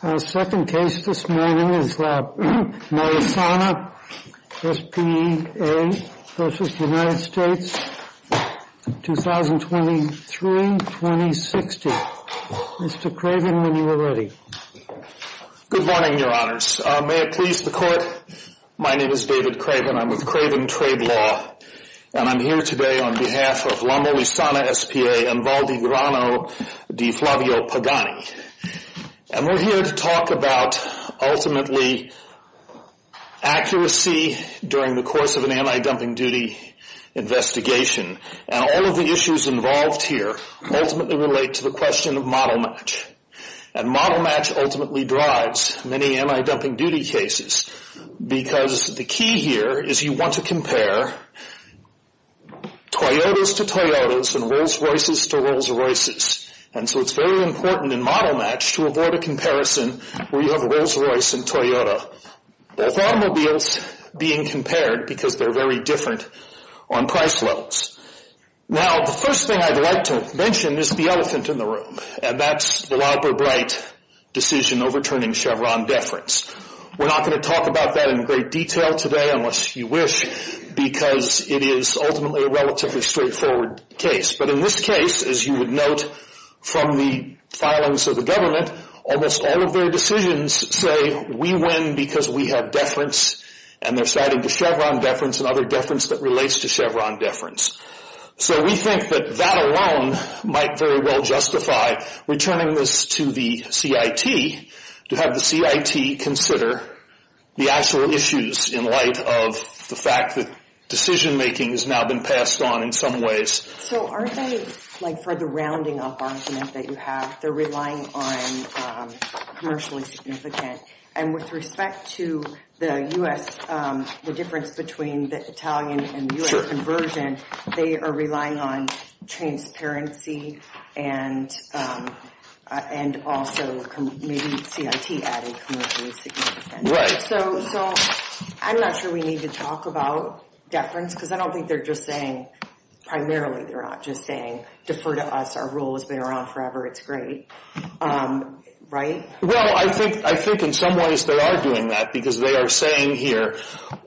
Our second case this morning is the Molisana S.p.A. v. United States, 2023-2060. Mr. Craven, when you are ready. Good morning, Your Honors. May it please the Court, my name is David Craven. I'm with Craven Trade Law, and I'm here today on behalf of La Molisana S.p.A. and Valdi Grano di Flavio Pagani. And we're here to talk about, ultimately, accuracy during the course of an anti-dumping duty investigation. And all of the issues involved here ultimately relate to the question of model match. And model match ultimately drives many anti-dumping duty cases, because the key here is you want to compare Toyotas to Toyotas and Rolls Royces to Rolls Royces. And so it's very important in model match to avoid a comparison where you have a Rolls Royce and Toyota, both automobiles, being compared because they're very different on price levels. Now, the first thing I'd like to mention is the elephant in the room, and that's the Loughborough-Bright decision overturning Chevron deference. We're not going to talk about that in great detail today, unless you wish, because it is ultimately a relatively straightforward case. But in this case, as you would note from the filings of the government, almost all of their decisions say, we win because we have deference, and they're citing the Chevron deference and other deference that relates to Chevron deference. So we think that that alone might very well justify returning this to the CIT to have the CIT consider the actual issues in light of the fact that decision making has now been passed on in some ways So aren't they, like for the rounding up argument that you have, they're relying on commercially significant. And with respect to the U.S., the difference between the Italian and U.S. conversion, they are relying on transparency and and also maybe CIT added commercially significant. So I'm not sure we need to talk about deference because I don't think they're just saying, primarily they're not just saying, defer to us. Our rule has been around forever. It's great. Right? Well, I think I think in some ways they are doing that because they are saying here,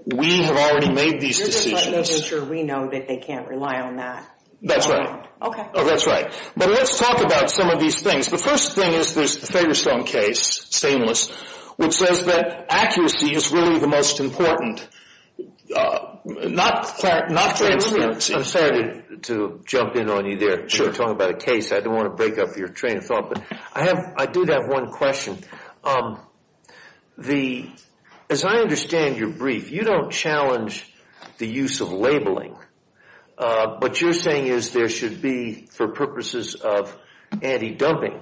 we have already made these decisions. We know that they can't rely on that. That's right. OK, that's right. But let's talk about some of these things. The first thing is there's the Fagerstown case, Stainless, which says that accuracy is really the most important, not transparency. I'm sorry to jump in on you there. Sure. We're talking about a case. I don't want to break up your train of thought. But I have I do have one question. As I understand your brief, you don't challenge the use of labeling. What you're saying is there should be, for purposes of anti-dumping,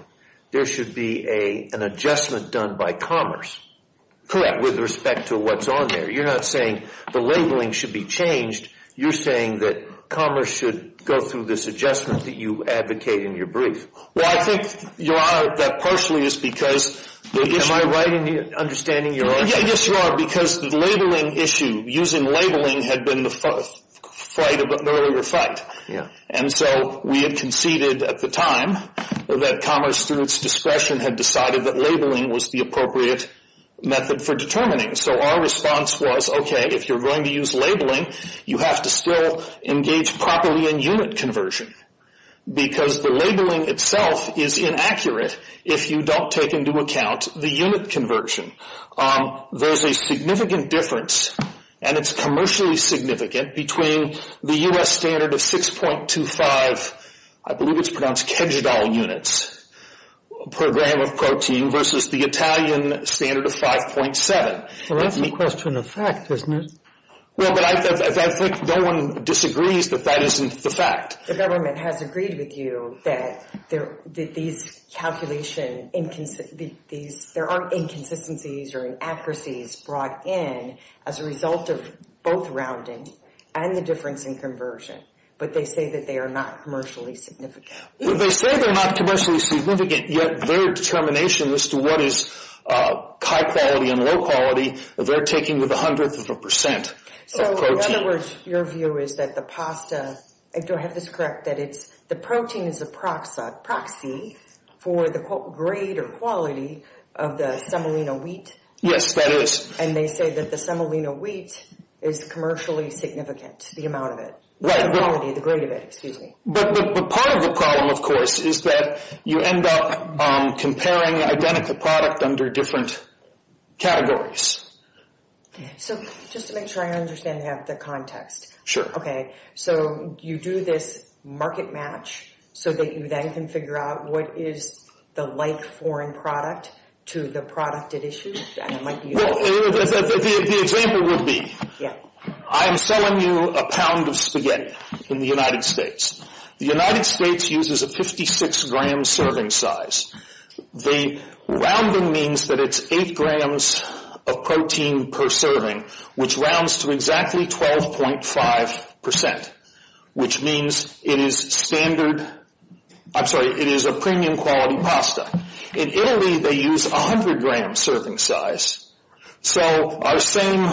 there should be an adjustment done by Commerce. Correct. With respect to what's on there. You're not saying the labeling should be changed. You're saying that Commerce should go through this adjustment that you advocate in your brief. Well, I think that partially is because... Am I right in understanding your argument? Yes, you are. Because the labeling issue, using labeling, had been the fight of an earlier fight. And so we had conceded at the time that Commerce, through its discretion, had decided that labeling was the appropriate method for determining. So our response was, okay, if you're going to use labeling, you have to still engage properly in unit conversion. Because the labeling itself is inaccurate if you don't take into account the unit conversion. There's a significant difference, and it's commercially significant, between the US standard of 6.25, I believe it's pronounced Kegidal units, per gram of protein, versus the Italian standard of 5.7. Well, that's a question of fact, isn't it? Well, but I think no one disagrees that that isn't the fact. The government has agreed with you that these calculations, there are inconsistencies or inaccuracies brought in as a result of both rounding and the difference in conversion. But they say that they are not commercially significant. They say they're not commercially significant, yet their determination as to what is high quality and low quality, they're taking with a hundredth of a percent of protein. So in other words, your view is that the pasta, do I have this correct, that the protein is a proxy for the greater quality of the semolina wheat? Yes, that is. And they say that the semolina wheat is commercially significant, the amount of it, the quality, the grade of it, excuse me. But part of the problem, of course, is that you end up comparing identical product under different categories. So just to make sure I understand the context. Sure. Okay, so you do this market match so that you then can figure out what is the like foreign product to the product at issue? And I'm selling you a pound of spaghetti in the United States. The United States uses a 56-gram serving size. The rounding means that it's eight grams of protein per serving, which rounds to exactly 12.5 percent, which means it is standard, I'm sorry, it is a premium quality pasta. In Italy, they use a 100-gram serving size. So our same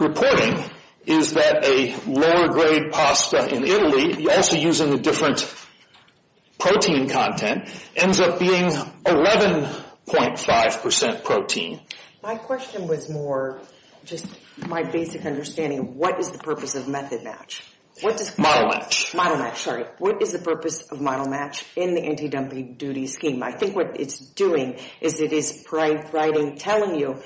reporting is that a lower grade pasta in Italy, also using a different protein content, ends up being 11.5 percent protein. My question was more just my basic understanding. What is the purpose of method match? Model match. Model match, sorry. What is the purpose of model match in the anti-dumping duty scheme? I think what it's doing is it is telling you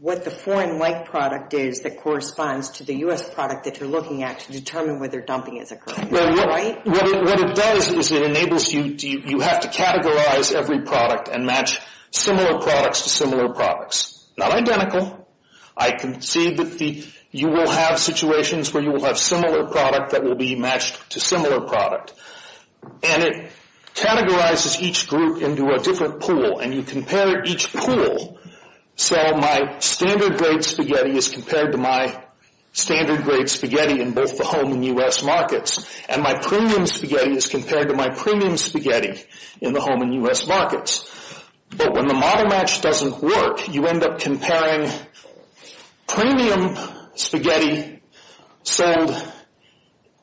what the foreign like product is that corresponds to the U.S. product that you're looking at to determine whether dumping is a crime, right? Well, what it does is it enables you to, you have to categorize every product and match similar products to similar products. Not identical. I can see that you will have situations where you will have similar product that will be matched to similar product. And it categorizes each group into a different pool. And you compare each pool. So my standard grade spaghetti is compared to my standard grade spaghetti in both the home and U.S. markets. And my premium spaghetti is compared to my premium spaghetti in the home and U.S. markets. But when the model match doesn't work, you end up comparing premium spaghetti sold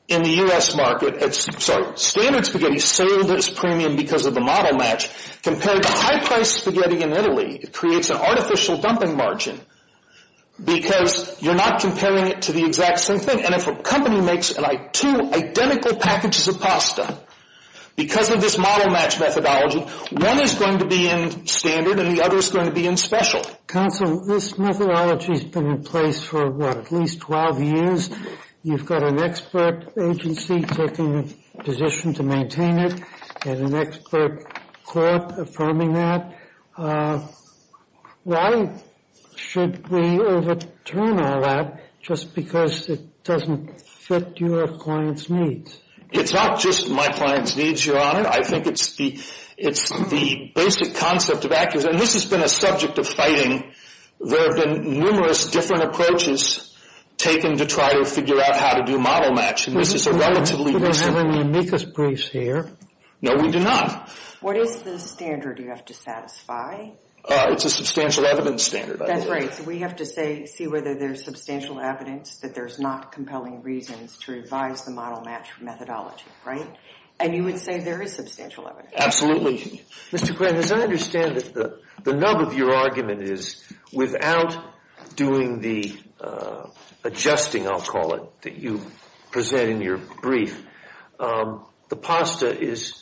in the U.S. market, sorry, standard spaghetti sold as premium because of the model match compared to high priced spaghetti in Italy. It creates an artificial dumping margin because you're not comparing it to the exact same thing. And if a company makes two identical packages of pasta because of this model match methodology, one is going to be in standard and the other is going to be in special. Counsel, this methodology has been in place for, what, at least 12 years. You've got an expert agency taking a position to maintain it and an expert court affirming that. Why should we overturn all that just because it doesn't fit your client's needs? It's not just my client's needs, Your Honor. I think it's the basic concept of accuracy. And this has been a subject of fighting. There have been numerous different approaches taken to try to figure out how to do model match. And this is a relatively recent... We don't have any amicus briefs here. No, we do not. What is the standard you have to satisfy? It's a substantial evidence standard. That's right. So we have to see whether there's substantial evidence that there's not compelling reasons to revise the model match methodology, right? And you would say there is substantial evidence. Absolutely. Mr. Quinn, as I understand it, the nub of your argument is without doing the adjusting, I'll call it, that you present in your brief, the pasta is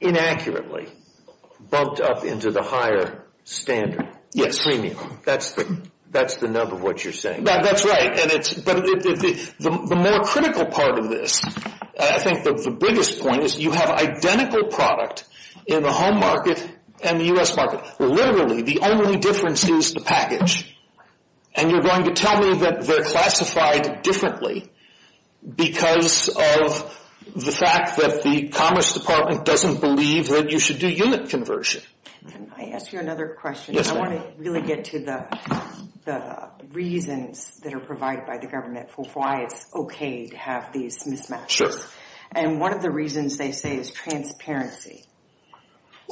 inaccurately bumped up into the higher standard. Yes. Premium. That's the nub of what you're saying. That's right. But the more critical part of this, I think the biggest point is you have identical product in the home market and the U.S. market. Literally, the only difference is the package. And you're going to tell me that they're classified differently because of the fact that the Commerce Department doesn't believe that you should do unit conversion. Can I ask you another question? Yes, ma'am. I want to really get to the reasons that are provided by the government for why it's okay to have these mismatches. And one of the reasons, they say, is transparency.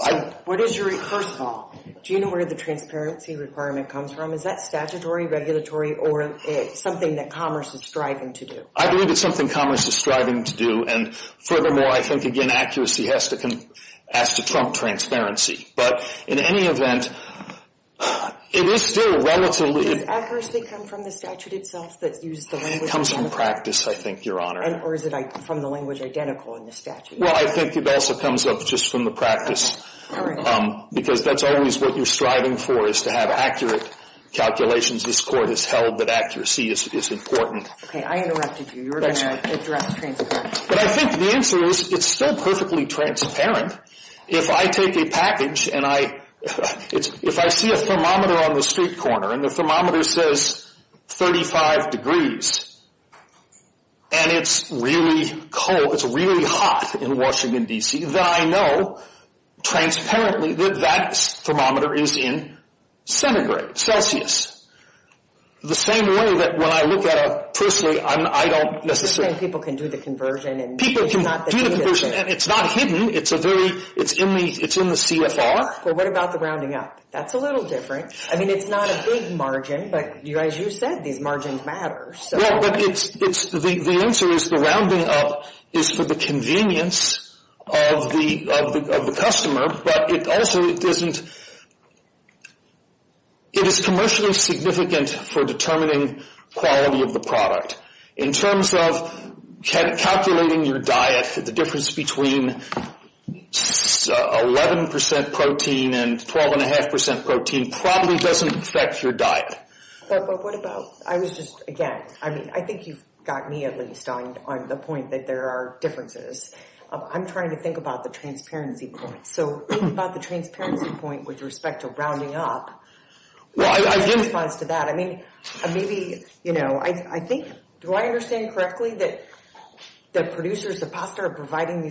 First of all, do you know where the transparency requirement comes from? Is that statutory, regulatory, or is it something that Commerce is striving to do? I believe it's something Commerce is striving to do. And furthermore, I think, again, accuracy has to trump transparency. But in any event, it is still relatively... Does accuracy come from the statute itself that uses the language... It comes from practice, I think, Your Honor. Or is it from the language identical in the statute? Well, I think it also comes up just from the practice. All right. Because that's always what you're striving for, is to have accurate calculations. This Court has held that accuracy is important. Okay. I interrupted you. You were going to address transparency. But I think the answer is it's still perfectly transparent. If I take a package and I... If I see a thermometer on the street corner and the thermometer says 35 degrees and it's really cold, it's really hot in Washington, D.C., then I know transparently that that thermometer is in centigrade, Celsius. The same way that when I look at a... Personally, I don't necessarily... People can do the conversion. People can do the conversion. And it's not hidden. It's a very... It's in the CFR. But what about the rounding up? That's a little different. I mean, it's not a big margin. But, as you said, these margins matter. Well, but the answer is the rounding up is for the convenience of the customer. But it also isn't... It is commercially significant for determining quality of the product. In terms of calculating your diet, the difference between 11% protein and 12.5% protein probably doesn't affect your diet. But what about... I was just... Again, I mean, I think you've got me at least on the point that there are differences. I'm trying to think about the transparency point. So think about the transparency point with respect to rounding up. Well, I didn't... I mean, maybe, you know... I think... Do I understand correctly that the producers are providing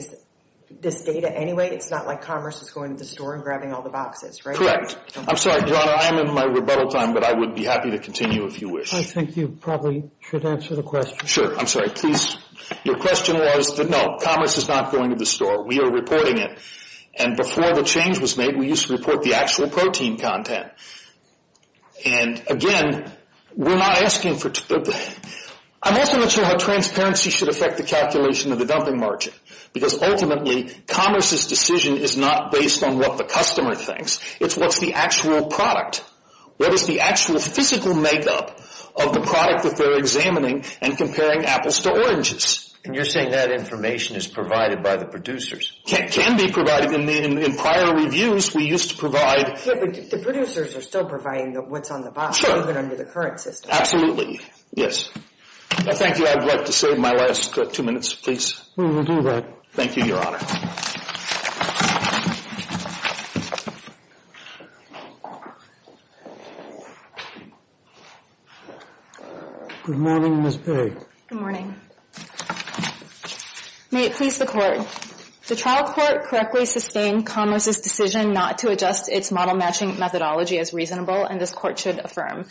this data anyway? It's not like commerce is going to the store and grabbing all the boxes, right? Correct. I'm sorry. John, I'm in my rebuttal time, but I would be happy to continue if you wish. I think you probably should answer the question. Sure. I'm sorry. Please. Your question was that, no, commerce is not going to the store. We are reporting it. And before the change was made, we used to report the actual protein content. And, again, we're not asking for... I'm also not sure how transparency should affect the calculation of the dumping margin, because ultimately commerce's decision is not based on what the customer thinks. It's what's the actual product. What is the actual physical makeup of the product that they're examining and comparing apples to oranges? And you're saying that information is provided by the producers? Can be provided. In prior reviews, we used to provide... The producers are still providing what's on the box, even under the current system. Absolutely. Yes. Thank you. I'd like to save my last two minutes, please. We will do that. Thank you, Your Honor. Good morning, Ms. A. Good morning. May it please the Court, The trial court correctly sustained commerce's decision not to adjust its model-matching methodology as reasonable, and this Court should affirm.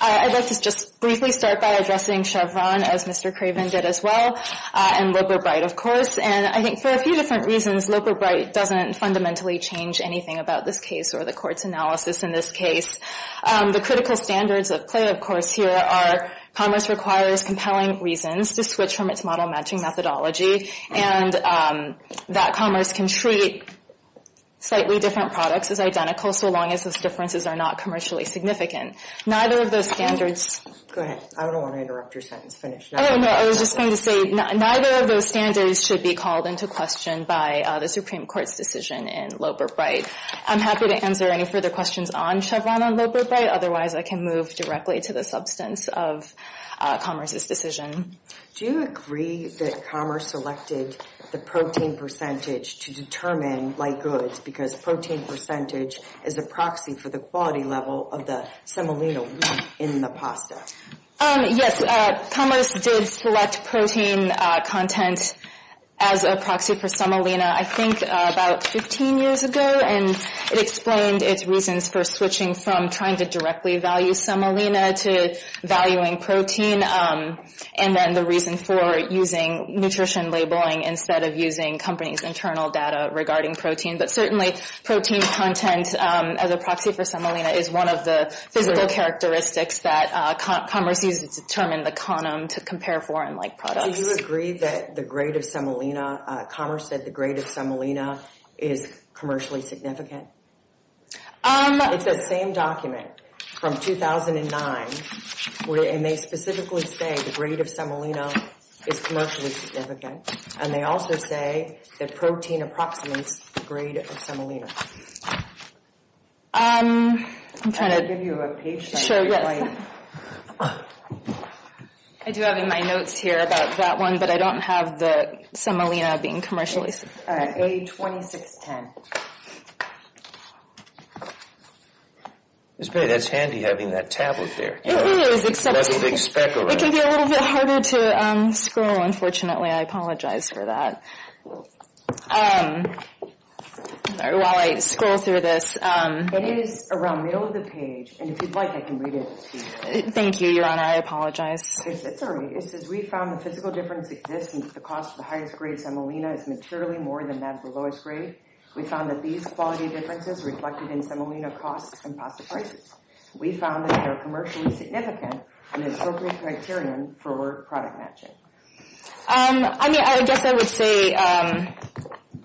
I'd like to just briefly start by addressing Chevron, as Mr. Craven did as well, and Loper Bright, of course. And I think for a few different reasons, Loper Bright doesn't fundamentally change anything about this case or the Court's analysis in this case. The critical standards of play, of course, here are commerce requires compelling reasons to switch from its model-matching methodology, and that commerce can treat slightly different products as identical, so long as those differences are not commercially significant. Neither of those standards... Go ahead. I don't want to interrupt your sentence. Finish. Oh, no. I was just going to say, neither of those standards should be called into question by the Supreme Court's decision in Loper Bright. I'm happy to answer any further questions on Chevron and Loper Bright. Otherwise, I can move directly to the substance of commerce's decision. Do you agree that commerce selected the protein percentage to determine light goods because protein percentage is a proxy for the quality level of the semolina wheat in the pasta? Yes. Commerce did select protein content as a proxy for semolina, I think, about 15 years ago, and it explained its reasons for switching from trying to directly value semolina to valuing protein. And then the reason for using nutrition labeling instead of using companies' internal data regarding protein. But certainly, protein content as a proxy for semolina is one of the physical characteristics that commerce used to determine the quantum to compare foreign-like products. So you agree that the grade of semolina... Commerce said the grade of semolina is commercially significant? It's that same document from 2009, and they specifically say the grade of semolina is commercially significant, and they also say that protein approximates the grade of semolina. I'm trying to... I'll give you a page... Sure, yes. I do have in my notes here about that one, but I don't have the semolina being commercially significant. All right, A2610. Ms. Bailey, that's handy having that tablet there. It is, except... That's a big speck of it. It can be a little bit harder to scroll, unfortunately. I apologize for that. While I scroll through this... It is around middle of the page, and if you'd like, I can read it to you. Thank you, Your Honor. I apologize. It's all right. It says, We found that these quality differences reflected in semolina costs and pasta prices. We found that they are commercially significant and an appropriate criterion for product matching. I mean, I guess I would say,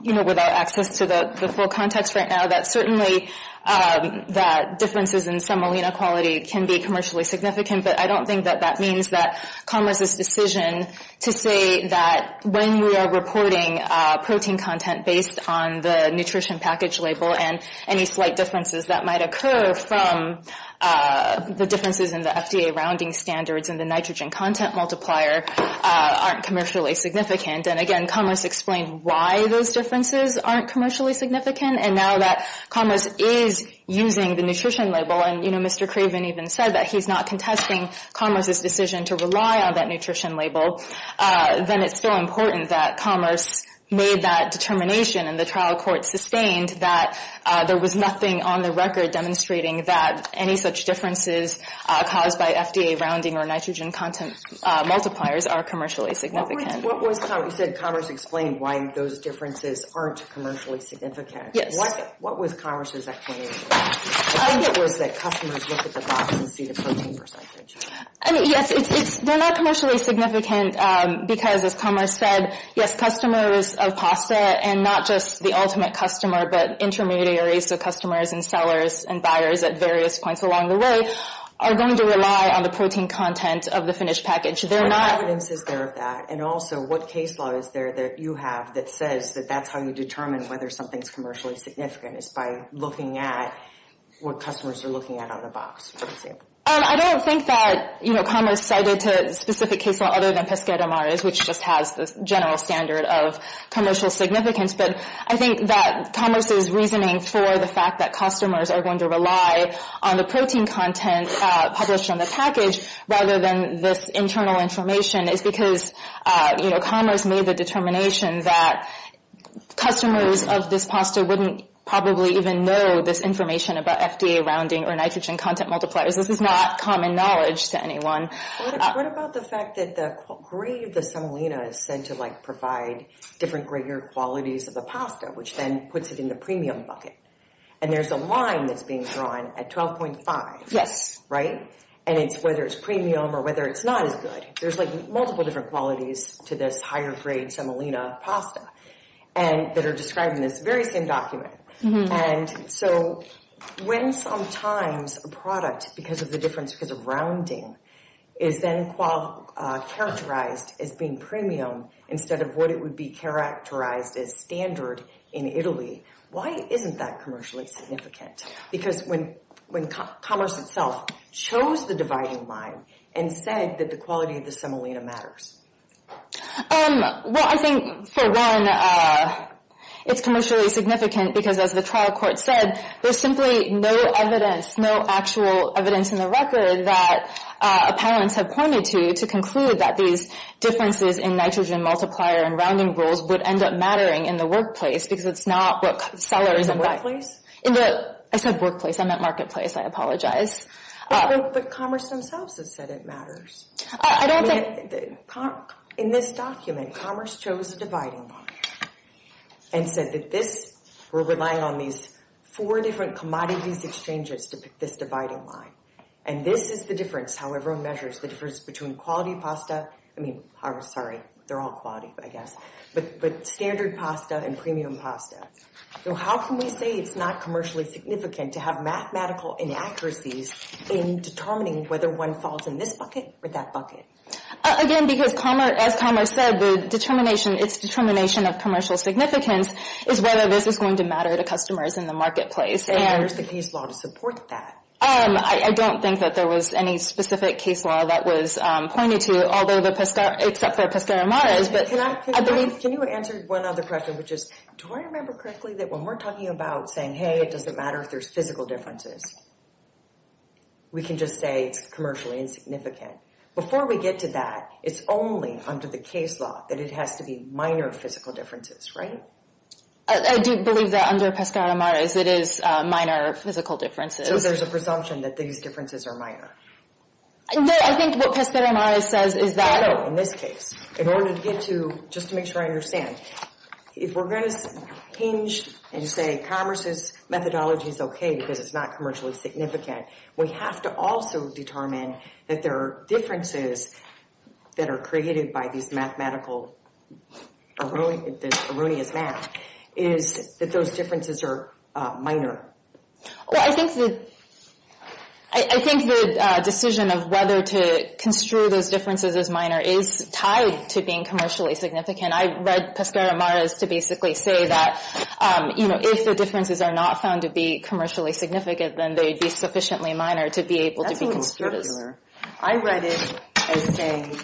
you know, without access to the full context right now, that certainly that differences in semolina quality can be commercially significant, but I don't think that that means that Commerce's decision to say that when we are reporting protein content based on the nutrition package label and any slight differences that might occur from the differences in the FDA rounding standards and the nitrogen content multiplier aren't commercially significant. And again, Commerce explained why those differences aren't commercially significant, and now that Commerce is using the nutrition label, and, you know, Mr. Craven even said that he's not contesting Commerce's decision to rely on that nutrition label, then it's still important that Commerce made that determination, and the trial court sustained that there was nothing on the record demonstrating that any such differences caused by FDA rounding or nitrogen content multipliers are commercially significant. What was Commerce? You said Commerce explained why those differences aren't commercially significant. Yes. What was Commerce's explanation? I think it was that customers look at the box and see the protein percentage. Yes, they're not commercially significant because, as Commerce said, yes, customers of pasta and not just the ultimate customer, but intermediaries of customers and sellers and buyers at various points along the way are going to rely on the protein content of the finished package. There's no evidence there of that, and also what case law is there that you have that says that that's how you determine whether something's commercially significant is by looking at what customers are looking at on the box, for example. I don't think that, you know, Commerce cited a specific case law other than Pesquero Mares, which just has the general standard of commercial significance, but I think that Commerce's reasoning for the fact that customers are going to rely on the protein content published on the package rather than this internal information is because, you know, customers of this pasta wouldn't probably even know this information about FDA rounding or nitrogen content multipliers. This is not common knowledge to anyone. What about the fact that the grade of the semolina is said to, like, provide different greater qualities of the pasta, which then puts it in the premium bucket, and there's a line that's being drawn at 12.5. Yes. Right? And it's whether it's premium or whether it's not as good. There's, like, multiple different qualities to this higher-grade semolina pasta, and that are described in this very same document. And so when sometimes a product, because of the difference because of rounding, is then characterized as being premium instead of what it would be characterized as standard in Italy, why isn't that commercially significant? Because when Commerce itself chose the dividing line and said that the quality of the semolina matters. Well, I think, for one, it's commercially significant because, as the trial court said, there's simply no evidence, no actual evidence in the record that appellants have pointed to to conclude that these differences in nitrogen multiplier and rounding rules would end up mattering in the workplace because it's not what sellers and buyers. In the workplace? I said workplace. I meant marketplace. I apologize. But Commerce themselves have said it matters. I don't think. In this document, Commerce chose the dividing line and said that this, we're relying on these four different commodities exchanges to pick this dividing line. And this is the difference, how everyone measures the difference between quality pasta, I mean, sorry, they're all quality, I guess, but standard pasta and premium pasta. So how can we say it's not commercially significant to have mathematical inaccuracies in determining whether one falls in this bucket or that bucket? Again, because, as Commerce said, the determination, its determination of commercial significance is whether this is going to matter to customers in the marketplace. And where's the case law to support that? I don't think that there was any specific case law that was pointed to, although the Pescar, except for Pescar Amares, but I believe. Can you answer one other question, which is, do I remember correctly that when we're talking about saying, hey, it doesn't matter if there's physical differences. We can just say it's commercially insignificant. Before we get to that, it's only under the case law that it has to be minor physical differences, right? I do believe that under Pescar Amares it is minor physical differences. So there's a presumption that these differences are minor. No, I think what Pescar Amares says is that. No, no, in this case, in order to get to, just to make sure I understand, if we're going to hinge and say commerce's methodology is okay because it's not commercially significant, we have to also determine that there are differences that are created by this mathematical, this erroneous math, is that those differences are minor. Well, I think the, I think the decision of whether to construe those differences as minor is tied to being commercially significant. I read Pescar Amares to basically say that, you know, if the differences are not found to be commercially significant, then they'd be sufficiently minor to be able to be construed as. I read it as saying,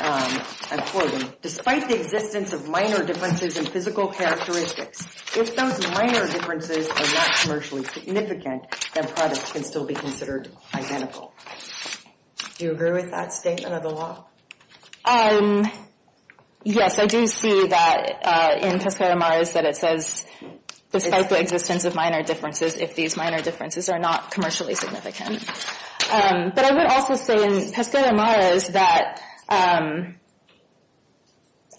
I'm quoting, despite the existence of minor differences in physical characteristics, if those minor differences are not commercially significant, then products can still be considered identical. Do you agree with that statement of the law? Yes, I do see that in Pescar Amares that it says, despite the existence of minor differences, if these minor differences are not commercially significant. But I would also say in Pescar Amares that,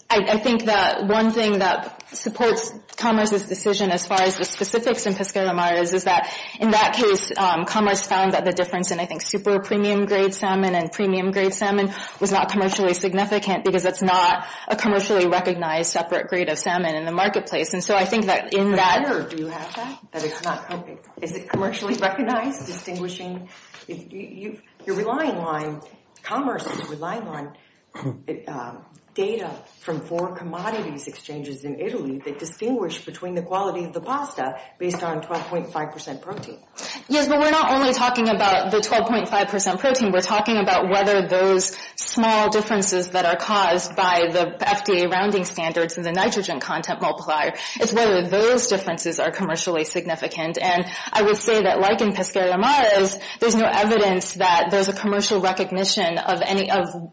I think that one thing that supports commerce's decision as far as the specifics in Pescar Amares is that in that case, commerce found that the difference in, I think, between super premium grade salmon and premium grade salmon was not commercially significant because it's not a commercially recognized separate grade of salmon in the marketplace. And so I think that in that. Do you have that? That it's not, is it commercially recognized? Distinguishing, you're relying on commerce, you're relying on data from four commodities exchanges in Italy that distinguish between the quality of the pasta based on 12.5% protein. Yes, but we're not only talking about the 12.5% protein, we're talking about whether those small differences that are caused by the FDA rounding standards and the nitrogen content multiplier, it's whether those differences are commercially significant. And I would say that like in Pescar Amares, there's no evidence that there's a commercial recognition of any of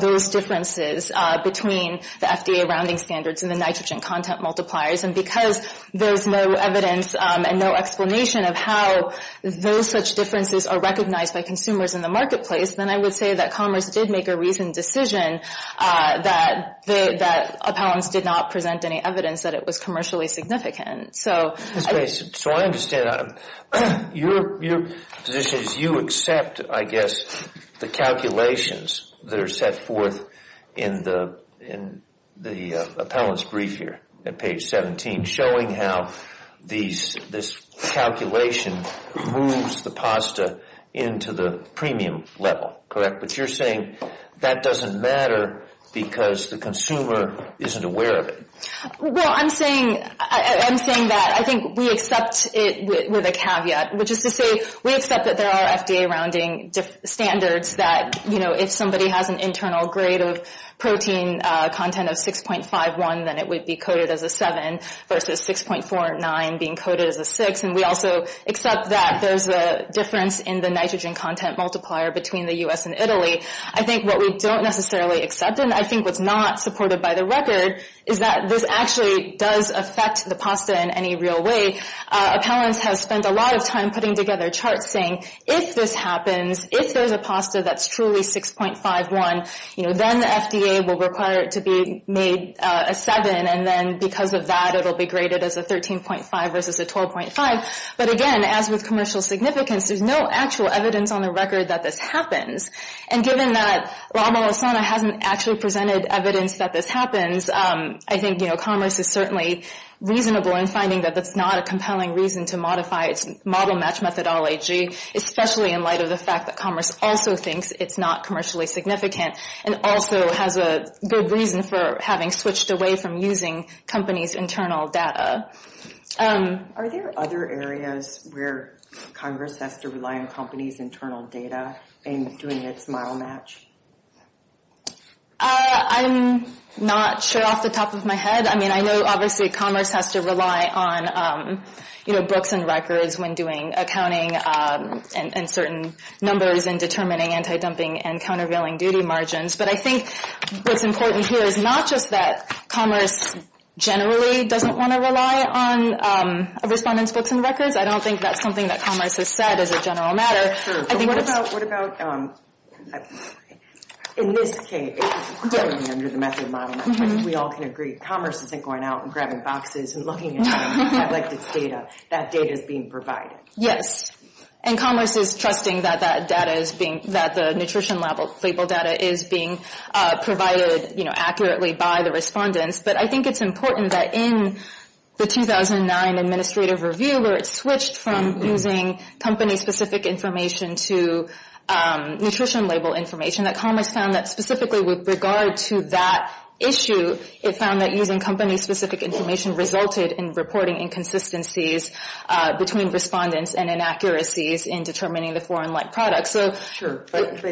those differences between the FDA rounding standards and the nitrogen content multipliers. And because there's no evidence and no explanation of how those such differences are recognized by consumers in the marketplace, then I would say that commerce did make a reasoned decision that appellants did not present any evidence that it was commercially significant. So I understand. Your position is you accept, I guess, the calculations that are set forth in the appellant's brief here at page 17, showing how this calculation moves the pasta into the premium level, correct? But you're saying that doesn't matter because the consumer isn't aware of it. Well, I'm saying that I think we accept it with a caveat, which is to say we accept that there are FDA rounding standards that if somebody has an internal grade of protein content of 6.51, then it would be coded as a 7 versus 6.49 being coded as a 6. And we also accept that there's a difference in the nitrogen content multiplier between the U.S. and Italy. I think what we don't necessarily accept, and I think what's not supported by the record, is that this actually does affect the pasta in any real way. Appellants have spent a lot of time putting together charts saying, if this happens, if there's a pasta that's truly 6.51, then the FDA will require it to be made a 7, and then because of that it will be graded as a 13.5 versus a 12.5. But again, as with commercial significance, there's no actual evidence on the record that this happens. And given that Lama Lozano hasn't actually presented evidence that this happens, I think commerce is certainly reasonable in finding that that's not a compelling reason to modify its model match methodology, especially in light of the fact that commerce also thinks it's not commercially significant and also has a good reason for having switched away from using companies' internal data. Are there other areas where Congress has to rely on companies' internal data in doing its model match? I'm not sure off the top of my head. I mean, I know obviously commerce has to rely on, you know, books and records when doing accounting and certain numbers and determining anti-dumping and countervailing duty margins. But I think what's important here is not just that commerce generally doesn't want to rely on a respondent's books and records. I don't think that's something that commerce has said as a general matter. What about, in this case, we all can agree commerce isn't going out and grabbing boxes and looking at data. That data is being provided. Yes. And commerce is trusting that the nutrition label data is being provided accurately by the respondents. But I think it's important that in the 2009 administrative review where it switched from using company-specific information to nutrition label information, that commerce found that specifically with regard to that issue, it found that using company-specific information resulted in reporting inconsistencies between respondents and inaccuracies in determining the foreign-like products. Sure, but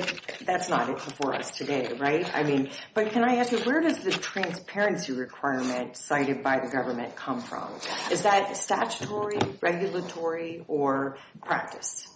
that's not it for us today, right? I mean, but can I ask you, where does the transparency requirement cited by the government come from? Is that statutory, regulatory, or practice?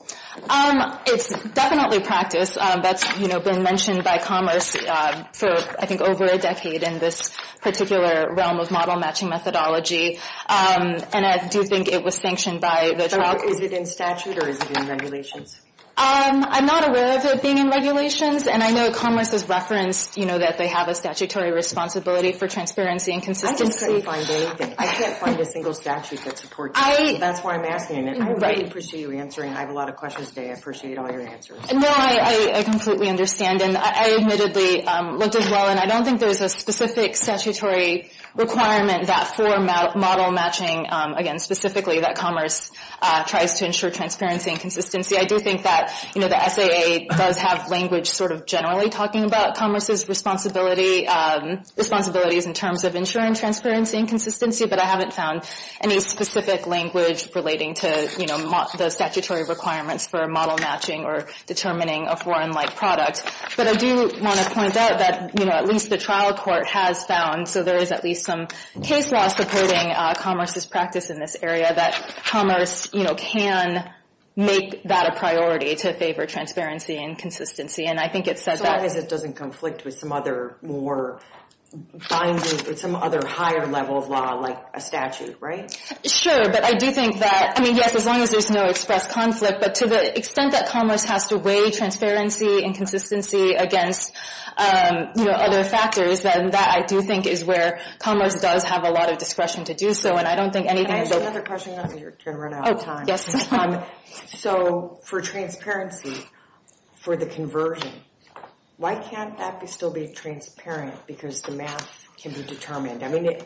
It's definitely practice. That's been mentioned by commerce for, I think, over a decade in this particular realm of model-matching methodology. And I do think it was sanctioned by the tribe. Is it in statute or is it in regulations? I'm not aware of it being in regulations. And I know commerce has referenced that they have a statutory responsibility for transparency and consistency. I just couldn't find anything. I can't find a single statute that supports that. So that's why I'm asking. And I really appreciate you answering. I have a lot of questions today. I appreciate all your answers. No, I completely understand. And I admittedly looked as well, and I don't think there's a specific statutory requirement that for model-matching, again, specifically, that commerce tries to ensure transparency and consistency. I do think that the SAA does have language sort of generally talking about commerce's responsibilities in terms of ensuring transparency and consistency, but I haven't found any specific language relating to, you know, the statutory requirements for model-matching or determining a foreign-like product. But I do want to point out that, you know, at least the trial court has found, so there is at least some case law supporting commerce's practice in this area, that commerce, you know, can make that a priority to favor transparency and consistency. So long as it doesn't conflict with some other more binding, some other higher level of law like a statute, right? Sure, but I do think that, I mean, yes, as long as there's no express conflict, but to the extent that commerce has to weigh transparency and consistency against, you know, other factors, then that, I do think, is where commerce does have a lot of discretion to do so. And I don't think anything... Can I ask you another question? You're going to run out of time. Oh, yes. So for transparency, for the conversion, why can't that still be transparent? Because the math can be determined. I mean,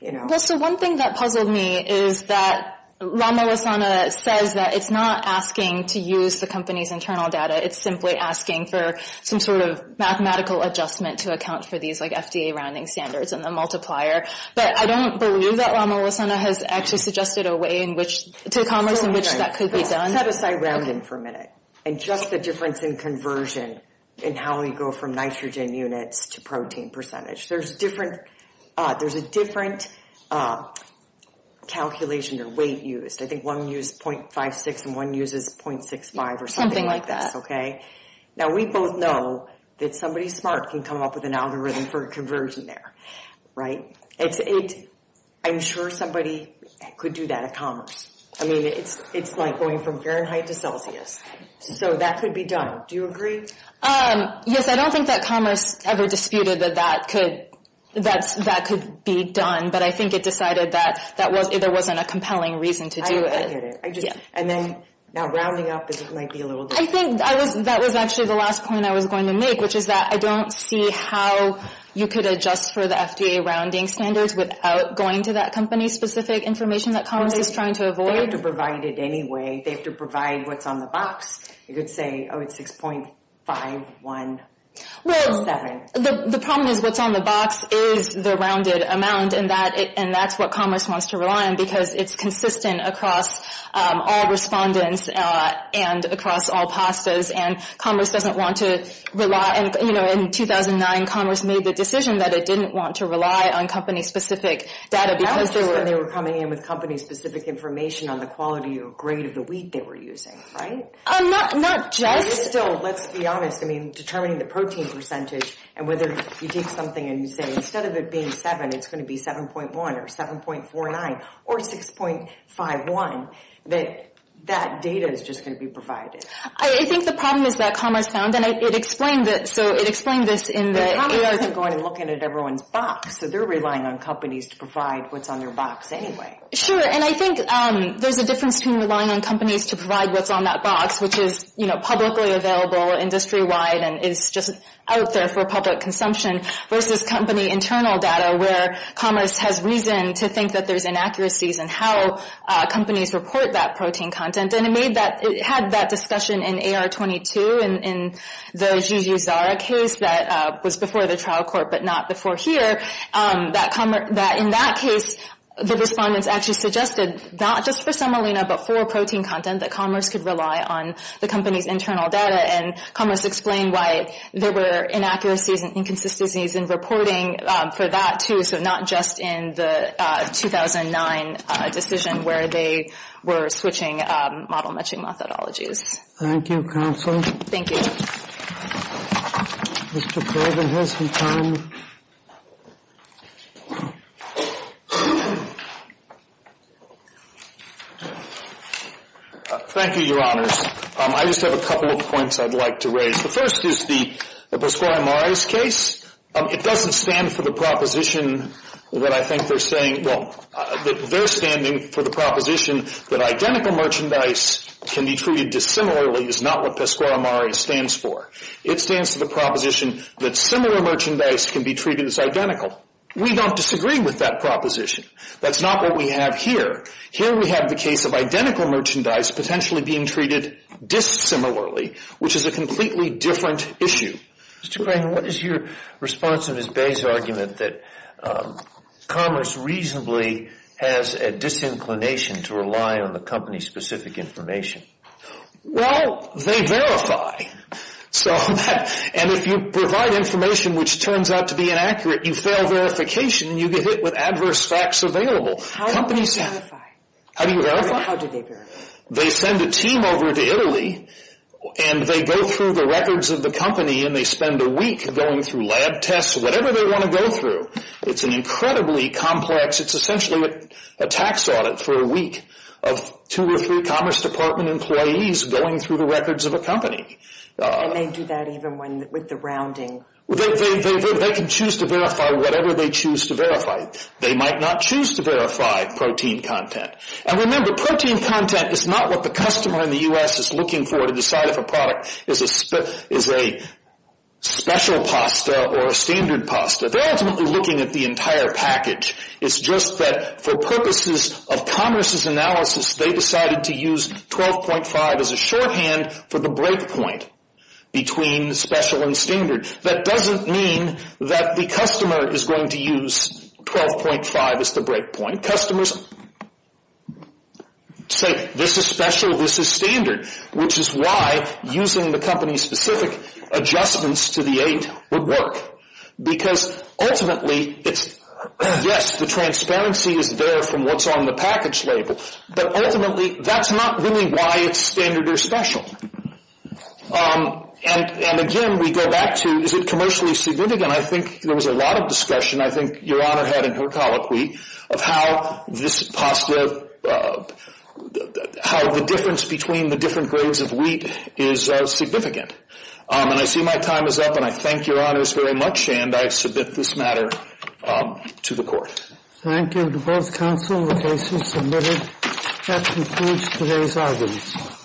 you know... Well, so one thing that puzzled me is that Lama Lasana says that it's not asking to use the company's internal data. It's simply asking for some sort of mathematical adjustment to account for these, like, FDA rounding standards and the multiplier. But I don't believe that Lama Lasana has actually suggested a way in which to commerce in which that could be done. Let's set aside rounding for a minute and just the difference in conversion and how we go from nitrogen units to protein percentage. There's a different calculation or weight used. I think one used 0.56 and one uses 0.65 or something like that. Okay? Now, we both know that somebody smart can come up with an algorithm for conversion there, right? I'm sure somebody could do that at commerce. I mean, it's like going from Fahrenheit to Celsius. So that could be done. Do you agree? Yes, I don't think that commerce ever disputed that that could be done. But I think it decided that there wasn't a compelling reason to do it. I get it. And then, now, rounding up might be a little different. I think that was actually the last point I was going to make, which is that I don't see how you could adjust for the FDA rounding standards without going to that company's specific information that commerce is trying to avoid. They have to provide it anyway. They have to provide what's on the box. You could say, oh, it's 6.517. Well, the problem is what's on the box is the rounded amount, and that's what commerce wants to rely on because it's consistent across all respondents and across all PASTAs. And commerce doesn't want to rely on it. In 2009, commerce made the decision that it didn't want to rely on company-specific data because there were – That was just when they were coming in with company-specific information on the quality or grade of the wheat they were using, right? Not just – Let's be honest. I mean, determining the protein percentage and whether you take something and you say instead of it being 7, it's going to be 7.1 or 7.49 or 6.51, that that data is just going to be provided. I think the problem is that commerce found – It explained this in the – But commerce isn't going and looking at everyone's box, so they're relying on companies to provide what's on their box anyway. Sure, and I think there's a difference between relying on companies to provide what's on that box, which is publicly available, industry-wide, and is just out there for public consumption, versus company internal data where commerce has reason to think that there's inaccuracies in how companies report that protein content. And then it made that – It had that discussion in AR22 in the Jujuzara case that was before the trial court but not before here, that in that case, the respondents actually suggested not just for semolina but for protein content, that commerce could rely on the company's internal data. And commerce explained why there were inaccuracies and inconsistencies in reporting for that, too, so not just in the 2009 decision where they were switching model-matching methodologies. Thank you, Counsel. Thank you. Thank you, Your Honors. I just have a couple of points I'd like to raise. The first is the Boscoia-Moraes case. It doesn't stand for the proposition that I think they're saying – well, they're standing for the proposition that identical merchandise can be treated dissimilarly is not what Boscoia-Moraes stands for. It stands for the proposition that similar merchandise can be treated as identical. We don't disagree with that proposition. That's not what we have here. Here we have the case of identical merchandise potentially being treated dissimilarly, which is a completely different issue. Mr. Crane, what is your response to Ms. Bay's argument that commerce reasonably has a disinclination to rely on the company's specific information? Well, they verify. And if you provide information which turns out to be inaccurate, you fail verification and you get hit with adverse facts available. How do you verify? How do you verify? How do they verify? They send a team over to Italy and they go through the records of the company and they spend a week going through lab tests, whatever they want to go through. It's an incredibly complex – it's essentially a tax audit for a week of two or three Commerce Department employees going through the records of a company. And they do that even with the rounding? They can choose to verify whatever they choose to verify. They might not choose to verify protein content. And remember, protein content is not what the customer in the U.S. is looking for to decide if a product is a special pasta or a standard pasta. They're ultimately looking at the entire package. It's just that for purposes of Commerce's analysis, they decided to use 12.5 as a shorthand for the breakpoint between special and standard. That doesn't mean that the customer is going to use 12.5 as the breakpoint. Customers say, this is special, this is standard, which is why using the company's specific adjustments to the 8 would work. Because ultimately, yes, the transparency is there from what's on the package label, but ultimately that's not really why it's standard or special. And again, we go back to, is it commercially significant? I think there was a lot of discussion, I think Your Honor had in her colloquy, of how the difference between the different grades of wheat is significant. And I see my time is up, and I thank Your Honors very much, and I submit this matter to the Court. Thank you to both counsel. The case is submitted. That concludes today's argument.